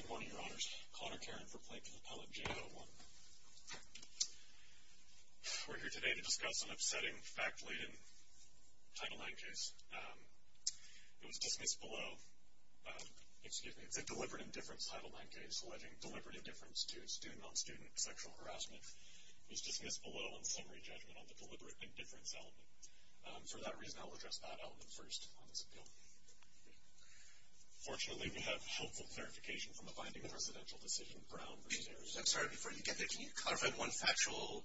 Good morning, your honors. Connor Caron for Plaintiff's Appellate, J. Doe 1. We're here today to discuss an upsetting, fact-laden Title IX case. It was dismissed below. Excuse me, it's a deliberate indifference Title IX case alleging deliberate indifference to student-on-student sexual harassment. It was dismissed below on summary judgment on the deliberate indifference element. For that reason, I will address that element first on this appeal. Fortunately, we have helpful clarification from the Binding of Residential Decision, Brown v. Harris. I'm sorry, before you get there, can you clarify one factual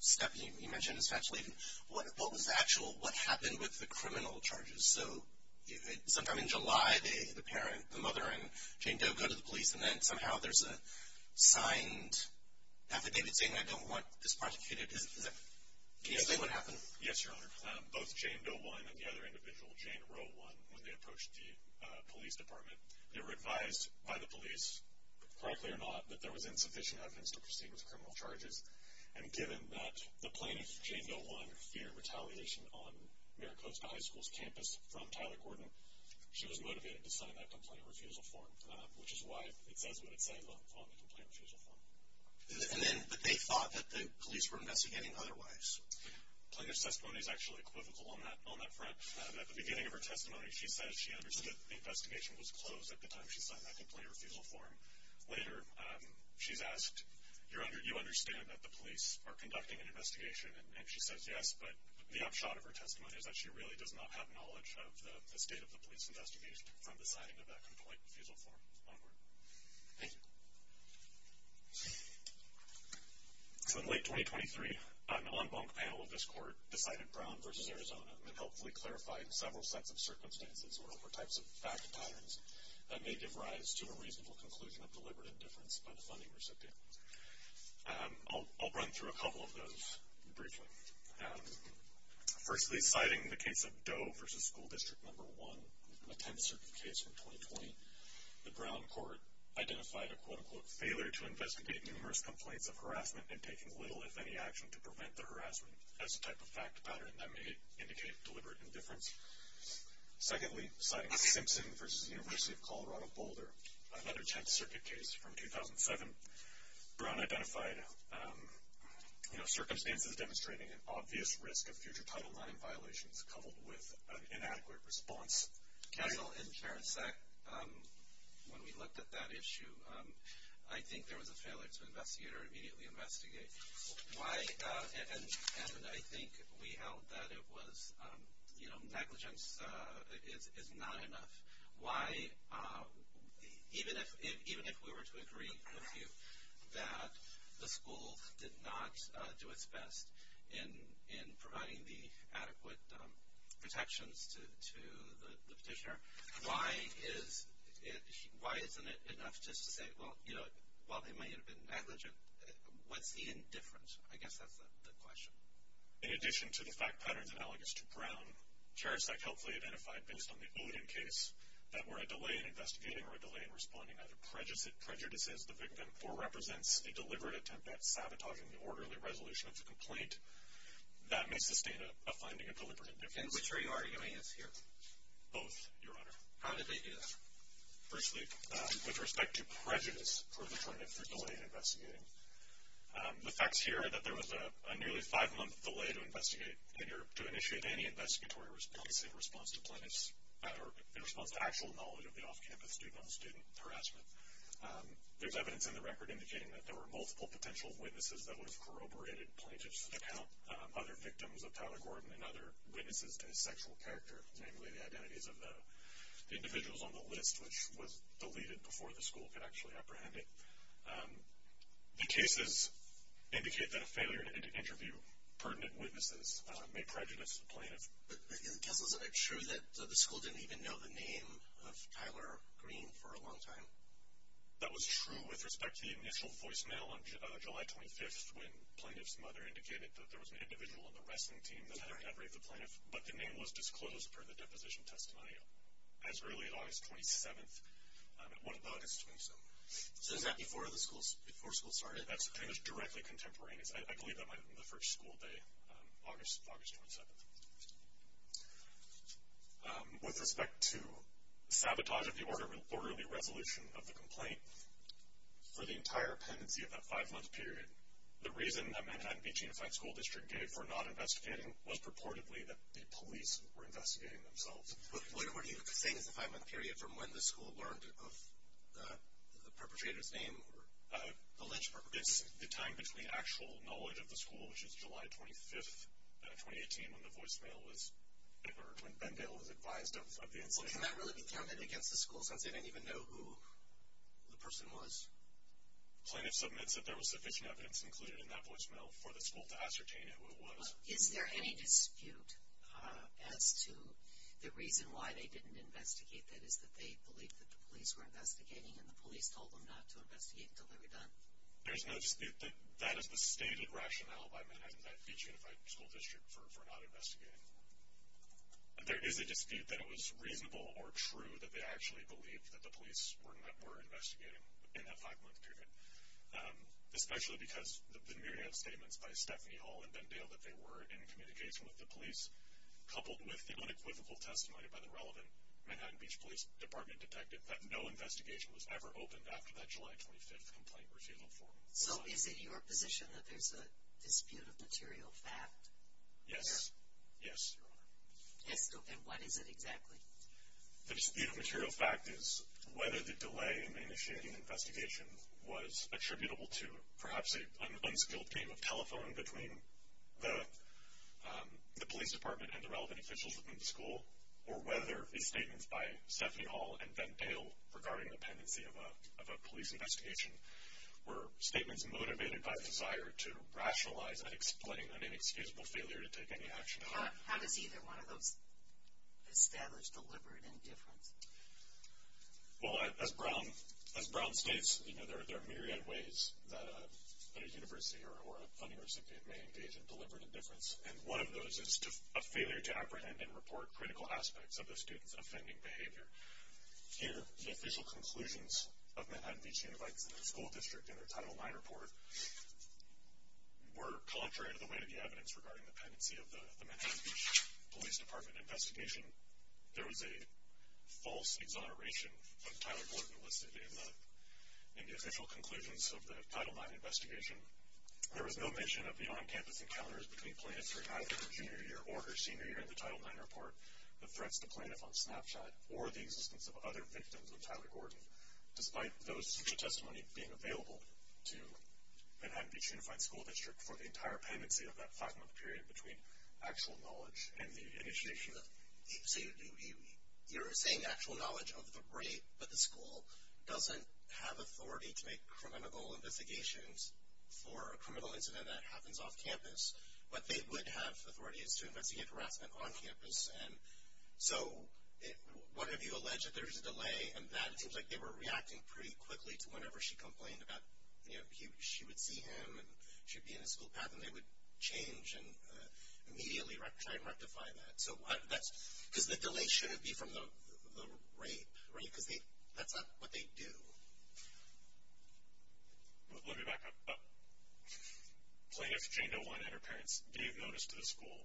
step you mentioned as fact-laden? What was factual? What happened with the criminal charges? So sometime in July, the parent, the mother and Jane Doe go to the police, and then somehow there's a signed affidavit saying, I don't want this part of the case. Can you explain what happened? Yes, your honor. Both Jane Doe 1 and the other individual, Jane Roe 1, when they approached the police department, they were advised by the police, correctly or not, that there was insufficient evidence to proceed with criminal charges. And given that the plaintiff, Jane Doe 1, feared retaliation on Maricopa High School's campus from Tyler Gordon, she was motivated to sign that complaint refusal form, which is why it says what it says on the complaint refusal form. And then, but they thought that the police were investigating otherwise. Plaintiff's testimony is actually equivocal on that front. At the beginning of her testimony, she says she understood the investigation was closed at the time she signed that complaint refusal form. Later, she's asked, you understand that the police are conducting an investigation? And she says yes, but the upshot of her testimony is that she really does not have knowledge of the state of the police investigation from the signing of that complaint refusal form onward. Thank you. So in late 2023, an en banc panel of this court decided Brown v. Arizona and helpfully clarified several sets of circumstances or types of fact patterns that may give rise to a reasonable conclusion of deliberate indifference by the funding recipient. I'll run through a couple of those briefly. Firstly, citing the case of Doe v. School District No. 1, a tenth-circuit case from 2020, the Brown court identified a, quote, unquote, failure to investigate numerous complaints of harassment and taking little, if any, action to prevent the harassment as a type of fact pattern that may indicate deliberate indifference. Secondly, citing Simpson v. University of Colorado Boulder, another tenth-circuit case from 2007, Brown identified, you know, circumstances demonstrating an obvious risk of future Title IX violations coupled with an inadequate response. Counsel, in Terence Sack, when we looked at that issue, I think there was a failure to investigate or immediately investigate. And I think we held that it was, you know, negligence is not enough. Why, even if we were to agree with you that the school did not do its best in providing the adequate protections to the petitioner, why isn't it enough just to say, well, you know, while they may have been negligent, what's the indifference? I guess that's the question. In addition to the fact patterns analogous to Brown, Terence Sack helpfully identified, based on the Odin case, that were a delay in investigating or a delay in responding either prejudices the victim or represents a deliberate attempt at sabotaging the orderly resolution of the complaint that may sustain a finding of deliberate indifference. And which are you arguing is here? Both, Your Honor. How did they do that? Firstly, with respect to prejudice for the delay in investigating. The facts here are that there was a nearly five-month delay to initiate any investigatory response in response to actual knowledge of the off-campus student-on-student harassment. There's evidence in the record indicating that there were multiple potential witnesses that would have corroborated plaintiff's account, other victims of Tyler Gordon and other witnesses to his sexual character, namely the identities of the individuals on the list, which was deleted before the school could actually apprehend it. The cases indicate that a failure to interview pertinent witnesses may prejudice the plaintiff. But isn't it true that the school didn't even know the name of Tyler Green for a long time? That was true with respect to the initial voicemail on July 25th when plaintiff's mother indicated that there was an individual on the wrestling team that had raped the plaintiff, but the name was disclosed per the deposition testimony as early as August 27th. What about August 27th? So is that before the school started? That's pretty much directly contemporaneous. I believe that might have been the first school day, August 27th. With respect to sabotage of the orderly resolution of the complaint, for the entire pendency of that five-month period, the reason that Manhattan Beach Unified School District gave for not investigating was purportedly that the police were investigating themselves. What are you saying is the five-month period from when the school learned of the perpetrator's name or the lynch perpetrator? It's the time between actual knowledge of the school, which is July 25th, 2018, when the voicemail was heard, when Bendale was advised of the incident. Well, can that really be counted against the school since they didn't even know who the person was? Plaintiff submits that there was sufficient evidence included in that voicemail for the school to ascertain who it was. Is there any dispute as to the reason why they didn't investigate, that is that they believed that the police were investigating and the police told them not to investigate until they were done? There's no dispute. That is the stated rationale by Manhattan Beach Unified School District for not investigating. There is a dispute that it was reasonable or true that they actually believed that the police were investigating in that five-month period, especially because of the myriad of statements by Stephanie Hall and Bendale that they were in communication with the police, coupled with the unequivocal testimony by the relevant Manhattan Beach Police Department detective that no investigation was ever opened after that July 25th complaint was filed for them. So is it your position that there's a dispute of material fact? Yes. Yes, Your Honor. And what is it exactly? The dispute of material fact is whether the delay in initiating the investigation was attributable to perhaps an unskilled game of telephone between the police department and the relevant officials within the school, or whether the statements by Stephanie Hall and Bendale regarding the pendency of a police investigation were statements motivated by the desire to rationalize and explain an inexcusable failure to take any action. How does either one of those establish deliberate indifference? Well, as Brown states, there are myriad ways that a university or a funding recipient may engage in deliberate indifference, and one of those is a failure to apprehend and report critical aspects of the student's offending behavior. Here, the official conclusions of Manhattan Beach Unified School District in their Title IX report were contrary to the weight of the evidence regarding the pendency of the Manhattan Beach Police Department investigation. There was a false exoneration of Tyler Gordon listed in the official conclusions of the Title IX investigation. There was no mention of the on-campus encounters between plaintiffs during either her junior year or her senior year in the Title IX report, the threats to plaintiff on Snapchat, or the existence of other victims of Tyler Gordon, despite those such a testimony being available to Manhattan Beach Unified School District for the entire pendency of that five-month period between actual knowledge and the initiation. So you're saying actual knowledge of the rape, but the school doesn't have authority to make criminal investigations for a criminal incident that happens off-campus, but they would have authorities to investigate harassment on-campus. And so, what if you allege that there's a delay, and that it seems like they were reacting pretty quickly to whenever she complained about, you know, she would see him, and she'd be in his school path, and they would change and immediately try and rectify that. So that's, because the delay shouldn't be from the rape, right? Because that's not what they do. Let me back up. Plaintiff Jane Delwine and her parents gave notice to the school.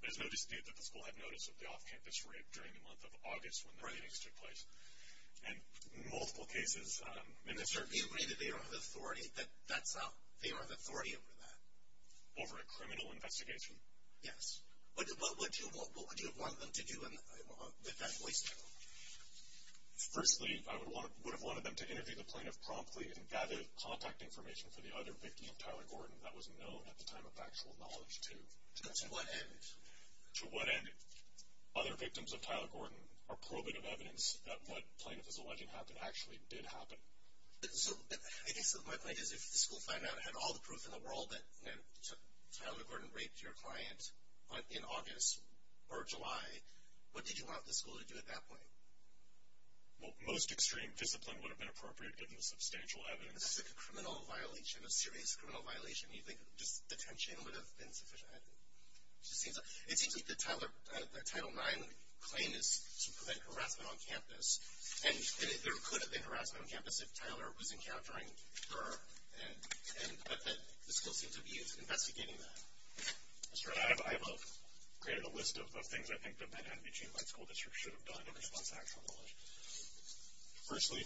There's no dispute that the school had notice of the off-campus rape during the month of August when the meetings took place. Right. And in multiple cases... And they certainly agree that they don't have authority. That's out. They don't have authority over that. Over a criminal investigation. Yes. What would you have wanted them to do with that voice mail? Firstly, I would have wanted them to interview the plaintiff promptly and gather contact information for the other victims of Tyler Gordon. That was known at the time of factual knowledge, too. To what end? To what end other victims of Tyler Gordon are probative evidence that what plaintiff is alleging happened actually did happen. So, I guess my point is, if the school found out it had all the proof in the world that Tyler Gordon raped your client in August or July, what did you want the school to do at that point? Well, most extreme discipline would have been appropriate given the substantial evidence. That's like a criminal violation, a serious criminal violation. Do you think just detention would have been sufficient? It seems like the Title IX claim is to prevent harassment on campus, and there could have been harassment on campus if Tyler was encountering her, but the school seems to be investigating that. I have created a list of things I think the Manhattan Beach Unified School District should have done in response to factual knowledge. Firstly,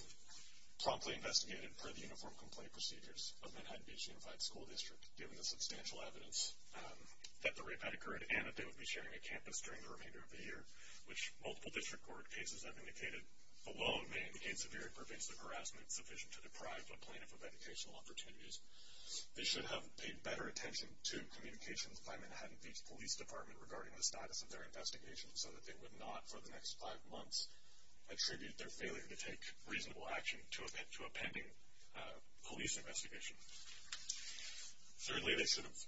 promptly investigate it per the uniform complaint procedures of Manhattan Beach Unified School District, given the substantial evidence that the rape had occurred and that they would be sharing a campus during the remainder of the year, which multiple district court cases have indicated alone may indicate severe impervasive harassment sufficient to deprive a plaintiff of educational opportunities. They should have paid better attention to communications by Manhattan Beach Police Department regarding the status of their investigation, so that they would not, for the next five months, attribute their failure to take reasonable action to a pending police investigation. Thirdly, they should have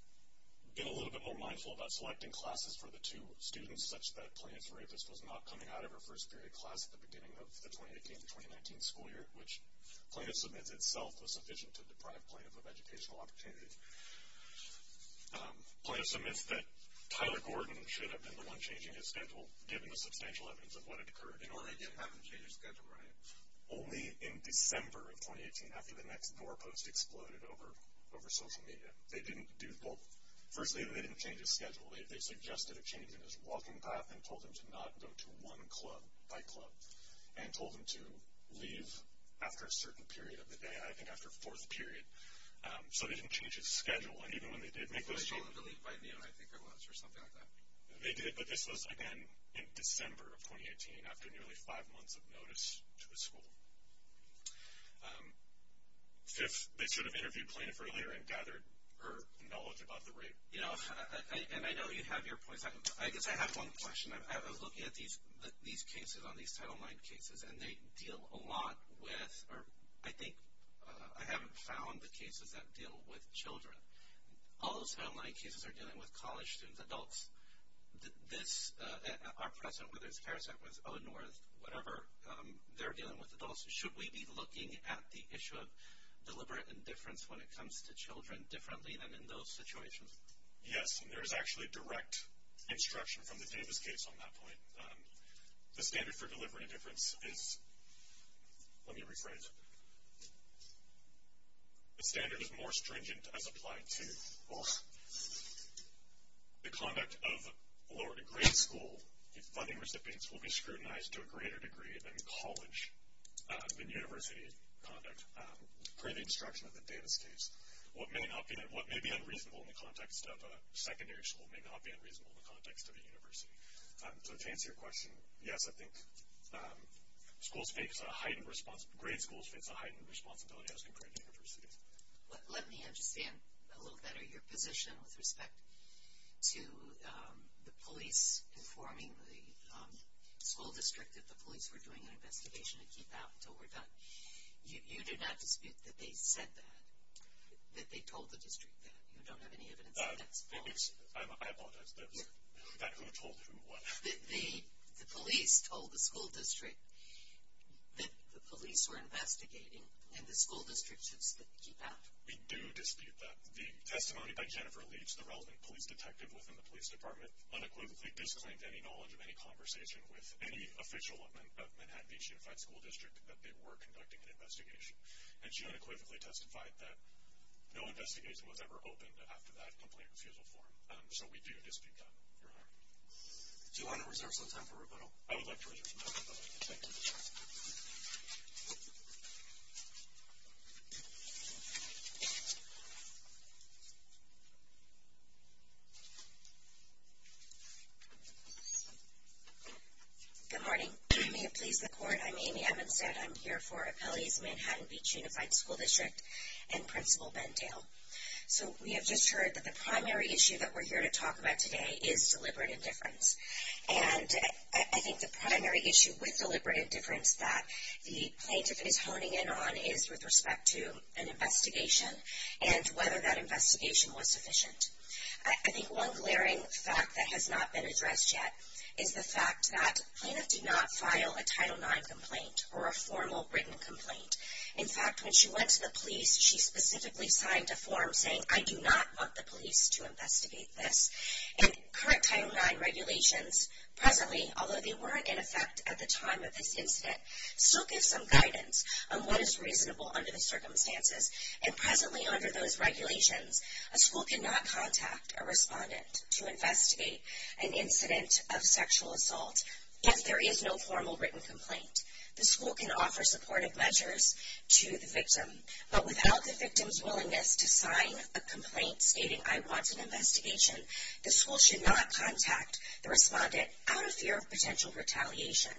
been a little bit more mindful about selecting classes for the two students, such that plaintiff's rapist was not coming out of her first period class at the beginning of the 2018-2019 school year, which plaintiff submits itself was sufficient to deprive plaintiff of educational opportunities. Plaintiff submits that Tyler Gordon should have been the one changing his schedule, given the substantial evidence of what had occurred. In Oregon, you don't have to change your schedule, right? Only in December of 2018, after the next door post exploded over social media. They didn't do both. Firstly, they didn't change his schedule. They suggested a change in his walking path and told him to not go to one club, and told him to leave after a certain period of the day, I think after fourth period. So they didn't change his schedule, and even when they did make those changes... They told him to leave by noon, I think it was, or something like that. They did, but this was, again, in December of 2018, after nearly five months of notice to the school. Fifth, they should have interviewed plaintiff earlier and gathered her knowledge about the rape. You know, and I know you have your points, I guess I have one question. I was looking at these cases on these Title IX cases, and they deal a lot with, or I think I haven't found the cases that deal with children. All those Title IX cases are dealing with college students, adults. This, our president, whether it's Harris Act, whether it's O-North, whatever, they're dealing with adults. Should we be looking at the issue of deliberate indifference when it comes to children differently than in those situations? Yes, and there is actually direct instruction from the Davis case on that point. The standard for deliberate indifference is... Let me rephrase. The standard is more stringent as applied to... Ugh. The conduct of lower-degree school funding recipients will be scrutinized to a greater degree than college and university conduct, per the instruction of the Davis case. What may be unreasonable in the context of a secondary school may not be unreasonable in the context of a university. So to answer your question, yes, I think schools face a heightened... grade schools face a heightened responsibility as compared to universities. Let me understand a little better your position with respect to the police informing the school district that the police were doing an investigation to keep out until we're done. You do not dispute that they said that, that they told the district that. You don't have any evidence that that's false? I apologize. That who told who what? The police told the school district that the police were investigating and the school district should keep out. We do dispute that. The testimony by Jennifer Leach, the relevant police detective within the police department, unequivocally disclaimed any knowledge of any conversation with any official of Manhattan Beach Unified School District that they were conducting an investigation. And she unequivocally testified that no investigation was ever opened after that complaint refusal form. So we do dispute that. Do you want to reserve some time for rebuttal? I would like to reserve some time for rebuttal. Thank you. Good morning. I may have pleased the court. I'm Amy Evanstad. I'm here for Appellees of Manhattan Beach Unified School District and Principal Bendale. So we have just heard that the primary issue that we're here to talk about today is deliberate indifference. And I think the primary issue with deliberate indifference that the plaintiff is honing in on is with respect to an investigation and whether that investigation was sufficient. I think one glaring fact that has not been addressed yet is the fact that plaintiff did not file a Title IX complaint or a formal written complaint. In fact, when she went to the police, she specifically signed a form saying, I do not want the police to investigate this. And current Title IX regulations presently, although they were in effect at the time of this incident, still give some guidance on what is reasonable under the circumstances. And presently under those regulations, a school cannot contact a respondent to investigate an incident of sexual assault if there is no formal written complaint. The school can offer supportive measures to the victim. But without the victim's willingness to sign a complaint stating, I want an investigation, the school should not contact the respondent out of fear of potential retaliation.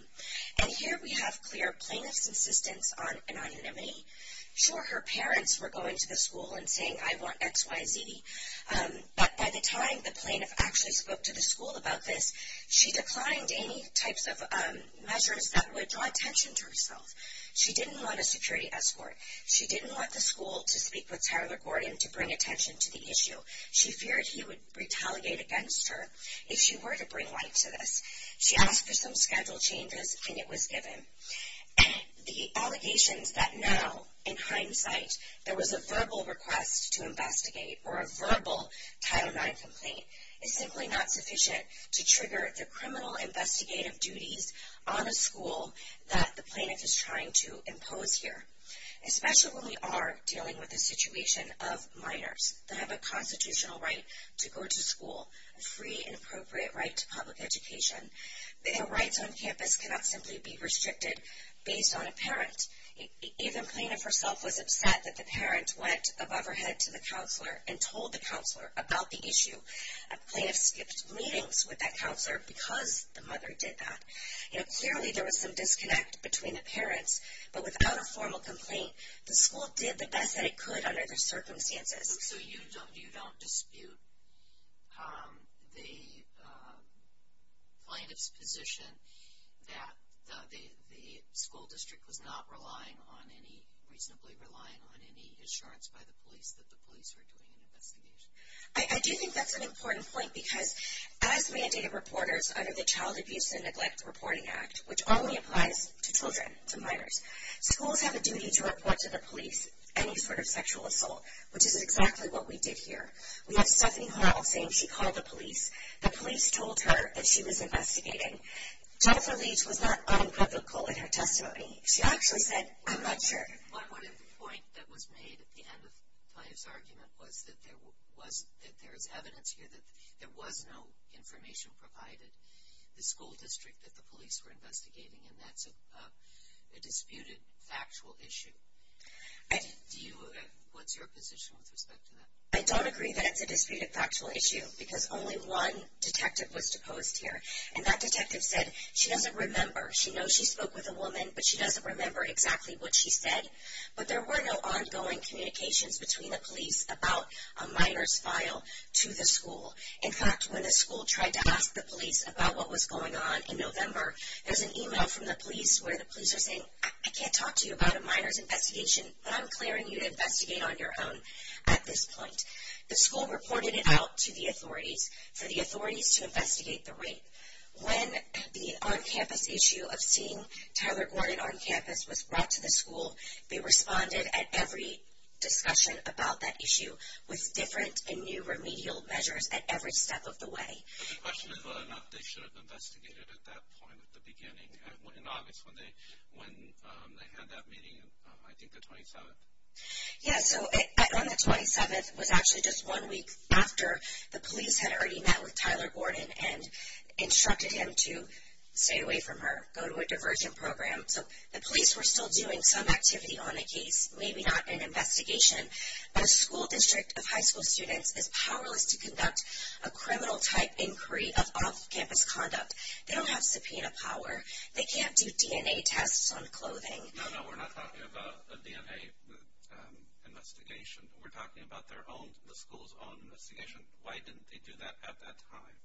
And here we have clear plaintiff's insistence on anonymity. Sure, her parents were going to the school and saying, I want X, Y, Z. But by the time the plaintiff actually spoke to the school about this, she declined any types of measures that would draw attention to herself. She didn't want a security escort. She didn't want the school to speak with Tyler Gordon to bring attention to the issue. She feared he would retaliate against her if she were to bring light to this. She asked for some schedule changes, and it was given. The allegations that now, in hindsight, there was a verbal request to investigate or a verbal Title IX complaint, is simply not sufficient to trigger the criminal investigative duties on a school that the plaintiff is trying to impose here. Especially when we are dealing with a situation of minors that have a constitutional right to go to school, a free and appropriate right to public education. Their rights on campus cannot simply be restricted based on a parent. Even plaintiff herself was upset that the parent went above her head to the counselor and told the counselor about the issue. Plaintiff skipped meetings with that counselor because the mother did that. Clearly there was some disconnect between the parents, but without a formal complaint, the school did the best that it could under the circumstances. So you don't dispute the plaintiff's position that the school district was not relying on any, reasonably relying on any assurance by the police that the police were doing an investigation? I do think that's an important point because as mandated reporters under the Child Abuse and Neglect Reporting Act, which only applies to children, to minors, schools have a duty to report to the police any sort of sexual assault, which is exactly what we did here. We have Stephanie Hall saying she called the police. The police told her that she was investigating. Jennifer Leach was not uncritical in her testimony. She actually said, I'm not sure. One point that was made at the end of Plaintiff's argument was that there is evidence here that there was no information provided, the school district that the police were investigating, and that's a disputed factual issue. What's your position with respect to that? I don't agree that it's a disputed factual issue because only one detective was deposed here, and that detective said she doesn't remember. She knows she spoke with a woman, but she doesn't remember exactly what she said. But there were no ongoing communications between the police about a minor's file to the school. In fact, when the school tried to ask the police about what was going on in November, there was an email from the police where the police were saying, I can't talk to you about a minor's investigation, but I'm declaring you to investigate on your own at this point. The school reported it out to the authorities for the authorities to investigate the rape. When the on-campus issue of seeing Tyler Gordon on campus was brought to the school, they responded at every discussion about that issue with different and new remedial measures at every step of the way. The question is whether or not they should have investigated at that point at the beginning. In August when they had that meeting, I think the 27th. Yeah, so on the 27th was actually just one week after the police had already met with Tyler Gordon and instructed him to stay away from her, go to a diversion program. So the police were still doing some activity on the case, maybe not an investigation, but a school district of high school students is powerless to conduct a criminal-type inquiry of off-campus conduct. They don't have subpoena power. They can't do DNA tests on clothing. No, no, we're not talking about a DNA investigation. We're talking about the school's own investigation. Why didn't they do that at that time?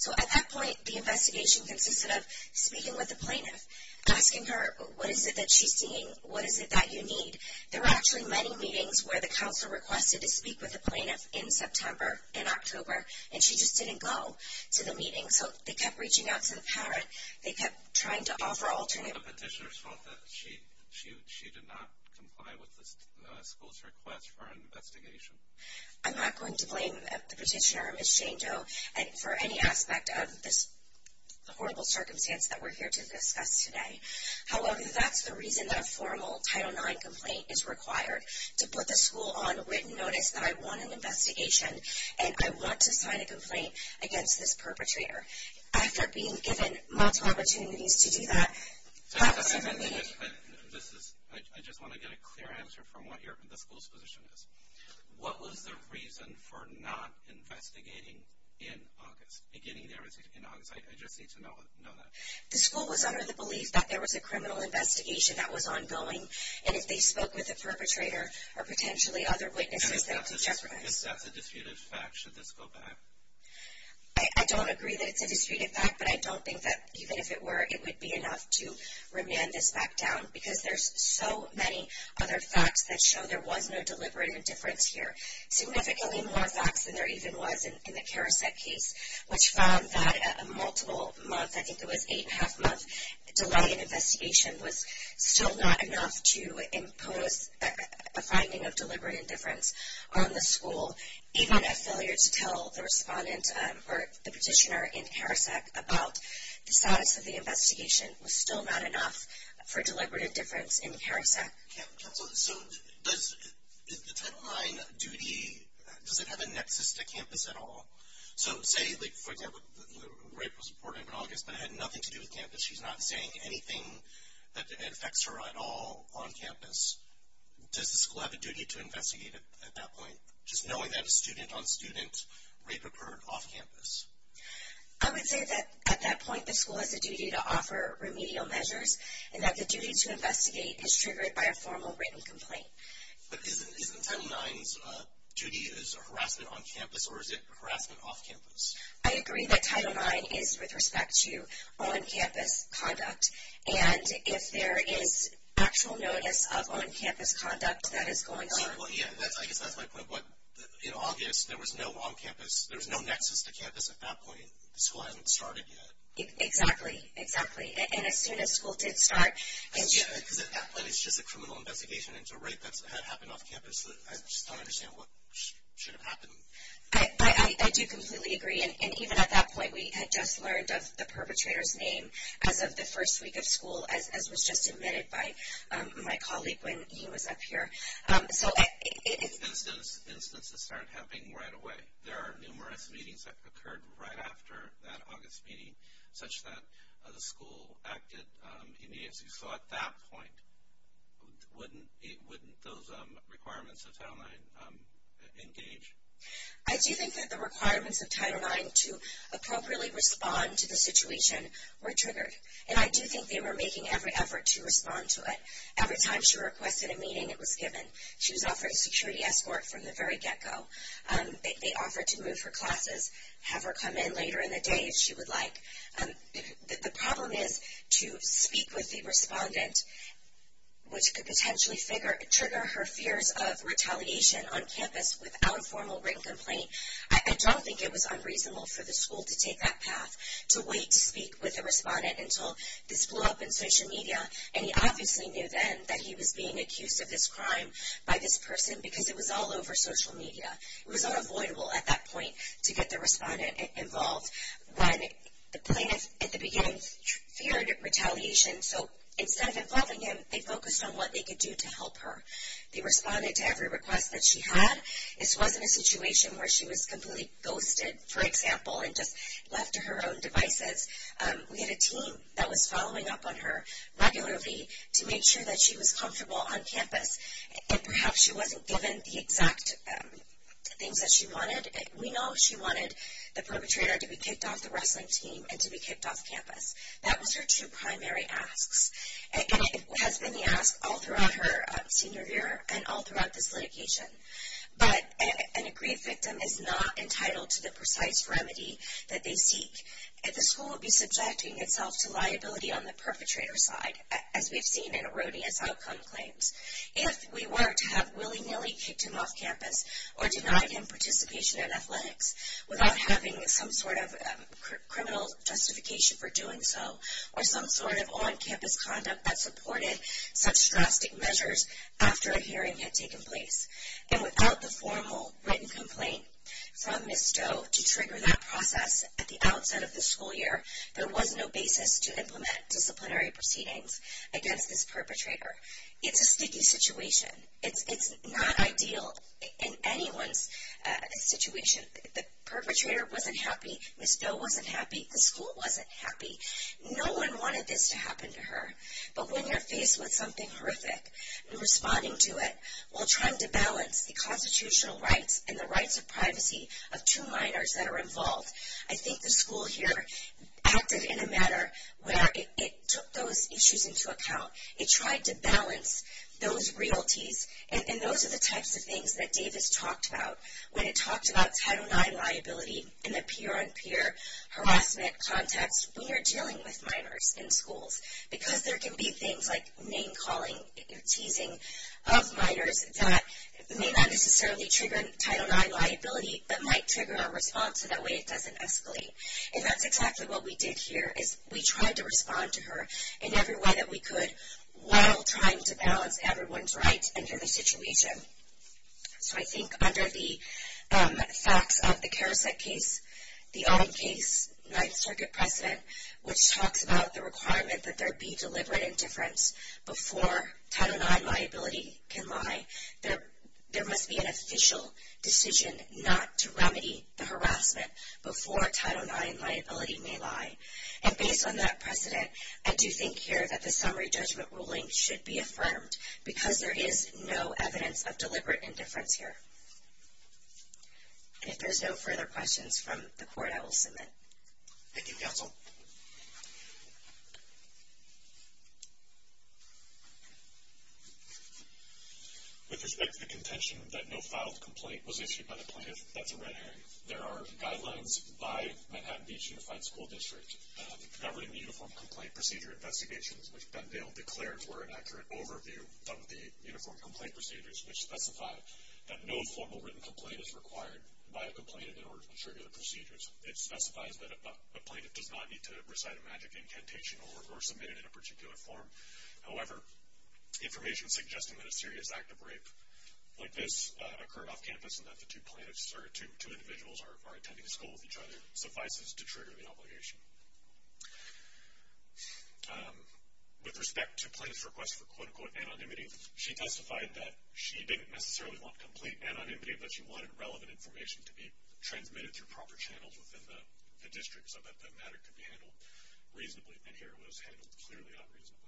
So at that point, the investigation consisted of speaking with the plaintiff, asking her what is it that she's seeing, what is it that you need. There were actually many meetings where the counsel requested to speak with the plaintiff in September, in October, and she just didn't go to the meeting. So they kept reaching out to the parent. They kept trying to offer alternatives. The petitioner thought that she did not comply with the school's request for an investigation. I'm not going to blame the petitioner or Ms. Jane Doe for any aspect of this horrible circumstance that we're here to discuss today. However, that's the reason that a formal Title IX complaint is required, to put the school on written notice that I want an investigation and I want to sign a complaint against this perpetrator. After being given multiple opportunities to do that, that's when the meeting... I just want to get a clear answer from what the school's position is. What was the reason for not investigating in August, beginning there in August? I just need to know that. The school was under the belief that there was a criminal investigation that was ongoing, and if they spoke with a perpetrator or potentially other witnesses, that could jeopardize... I guess that's a disputed fact. Should this go back? I don't agree that it's a disputed fact, but I don't think that, even if it were, it would be enough to remand this back down, because there's so many other facts that show there was no deliberate indifference here. Significantly more facts than there even was in the Carouset case, which found that a multiple-month, I think it was eight-and-a-half-month, delay in investigation was still not enough to impose a finding of deliberate indifference on the school, even a failure to tell the respondent or the petitioner in Carouset about the status of the investigation was still not enough for deliberate indifference in Carouset. So does the Title IX duty, does it have a nexus to campus at all? So say, for example, rape was reported in August, but it had nothing to do with campus. So she's not saying anything that affects her at all on campus. Does the school have a duty to investigate at that point, just knowing that a student-on-student rape occurred off campus? I would say that, at that point, the school has a duty to offer remedial measures, and that the duty to investigate is triggered by a formal written complaint. But isn't Title IX's duty harassment on campus, or is it harassment off campus? I agree that Title IX is with respect to on-campus conduct, and if there is actual notice of on-campus conduct that is going on. Well, yeah, I guess that's my point. In August, there was no on-campus, there was no nexus to campus at that point. The school hasn't started yet. Exactly, exactly. And as soon as school did start. Because at that point, it's just a criminal investigation into rape that happened off campus. I just don't understand what should have happened. I do completely agree. And even at that point, we had just learned of the perpetrator's name as of the first week of school, as was just admitted by my colleague when he was up here. Instances start happening right away. There are numerous meetings that occurred right after that August meeting, such that the school acted immediately. So at that point, wouldn't those requirements of Title IX engage? I do think that the requirements of Title IX to appropriately respond to the situation were triggered. And I do think they were making every effort to respond to it. Every time she requested a meeting, it was given. She was offered a security escort from the very get-go. They offered to move her classes, have her come in later in the day if she would like. The problem is to speak with the respondent, which could potentially trigger her fears of retaliation on campus without a formal written complaint. I don't think it was unreasonable for the school to take that path, to wait to speak with the respondent until this blew up in social media. And he obviously knew then that he was being accused of this crime by this person because it was all over social media. It was unavoidable at that point to get the respondent involved when the plaintiff at the beginning feared retaliation. So instead of involving him, they focused on what they could do to help her. They responded to every request that she had. This wasn't a situation where she was completely ghosted, for example, and just left to her own devices. We had a team that was following up on her regularly to make sure that she was comfortable on campus. And perhaps she wasn't given the exact things that she wanted. We know she wanted the perpetrator to be kicked off the wrestling team and to be kicked off campus. That was her two primary asks. And it has been the ask all throughout her senior year and all throughout this litigation. But an aggrieved victim is not entitled to the precise remedy that they seek. The school will be subjecting itself to liability on the perpetrator's side, as we've seen in erroneous outcome claims. If we were to have willy-nilly kicked him off campus or denied him participation in athletics without having some sort of criminal justification for doing so, or some sort of on-campus conduct that supported such drastic measures after a hearing had taken place. And without the formal written complaint from Ms. Stowe to trigger that process at the outset of the school year, there was no basis to implement disciplinary proceedings against this perpetrator. It's a sticky situation. It's not ideal in anyone's situation. The perpetrator wasn't happy. Ms. Stowe wasn't happy. The school wasn't happy. No one wanted this to happen to her. But when you're faced with something horrific and responding to it, while trying to balance the constitutional rights and the rights of privacy of two minors that are involved, I think the school here acted in a manner where it took those issues into account. It tried to balance those realties. And those are the types of things that Davis talked about when it talked about Title IX liability and the peer-on-peer harassment context when you're dealing with minors in schools. Because there can be things like name-calling, teasing of minors that may not necessarily trigger Title IX liability, but might trigger a response so that way it doesn't escalate. And that's exactly what we did here is we tried to respond to her in every way that we could while trying to balance everyone's rights and their situation. So I think under the facts of the Carouset case, the Owen case, Ninth Circuit precedent, which talks about the requirement that there be deliberate indifference before Title IX liability can lie, there must be an official decision not to remedy the harassment before Title IX liability may lie. And based on that precedent, I do think here that the summary judgment ruling should be affirmed because there is no evidence of deliberate indifference here. And if there's no further questions from the Court, I will submit. Thank you, Counsel. With respect to the contention that no filed complaint was issued by the plaintiff, that's a red herring. There are guidelines by Manhattan Beach Unified School District governing the Uniform Complaint Procedure Investigations, which Bendale declared were an accurate overview of the Uniform Complaint Procedures, which specify that no formal written complaint is required by a complainant in order to trigger the procedures. It specifies that a plaintiff does not need to recite a magic incantation or submit it in a particular form. However, information suggesting that a serious act of rape like this occurred off campus and that the two individuals are attending school with each other suffices to trigger the obligation. With respect to plaintiff's request for quote-unquote anonymity, she testified that she didn't necessarily want complete anonymity, but she wanted relevant information to be transmitted through proper channels within the district so that the matter could be handled reasonably. And here it was handled clearly unreasonably.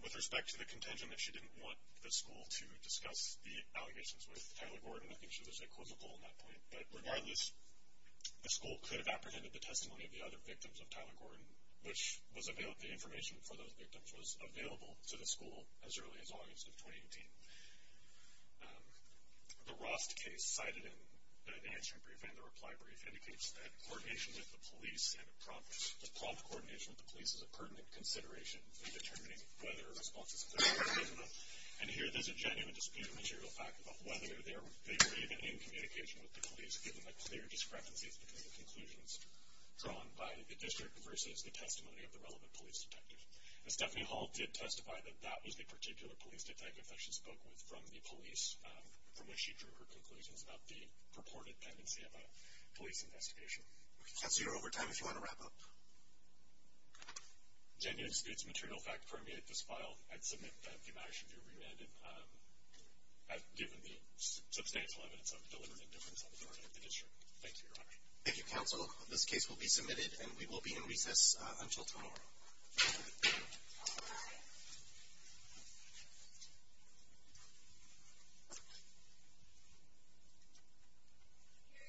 With respect to the contention that she didn't want the school to discuss the allegations with Tyler Gordon, I think she was equivocal on that point. But regardless, the school could have apprehended the testimony of the other victims of Tyler Gordon, which the information for those victims was available to the school as early as August of 2018. The Rost case cited in the answer brief and the reply brief indicates that coordination with the police and prompt coordination with the police is a pertinent consideration in determining whether a response is effective or not. And here there's a genuine dispute of material fact about whether they were even in communication with the police, given the clear discrepancies between the conclusions drawn by the district versus the testimony of the relevant police detective. And Stephanie Hall did testify that that was the particular police detective that she spoke with from the police, from which she drew her conclusions about the purported tendency of a police investigation. That's your overtime if you want to wrap up. Genuine disputes of material fact permeate this file. I'd submit that the amendment should be remanded, given the substantial evidence of deliberate indifference on the part of the district. Thank you, Your Honor. Thank you, Counsel. This case will be submitted, and we will be in recess until tomorrow. All rise. Hear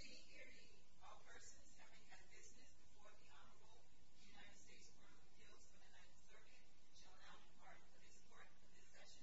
ye, hear ye. All persons having had business before the Honorable United States Court of Appeals for the Ninth Circuit shall now depart for this court. This session stands adjourned.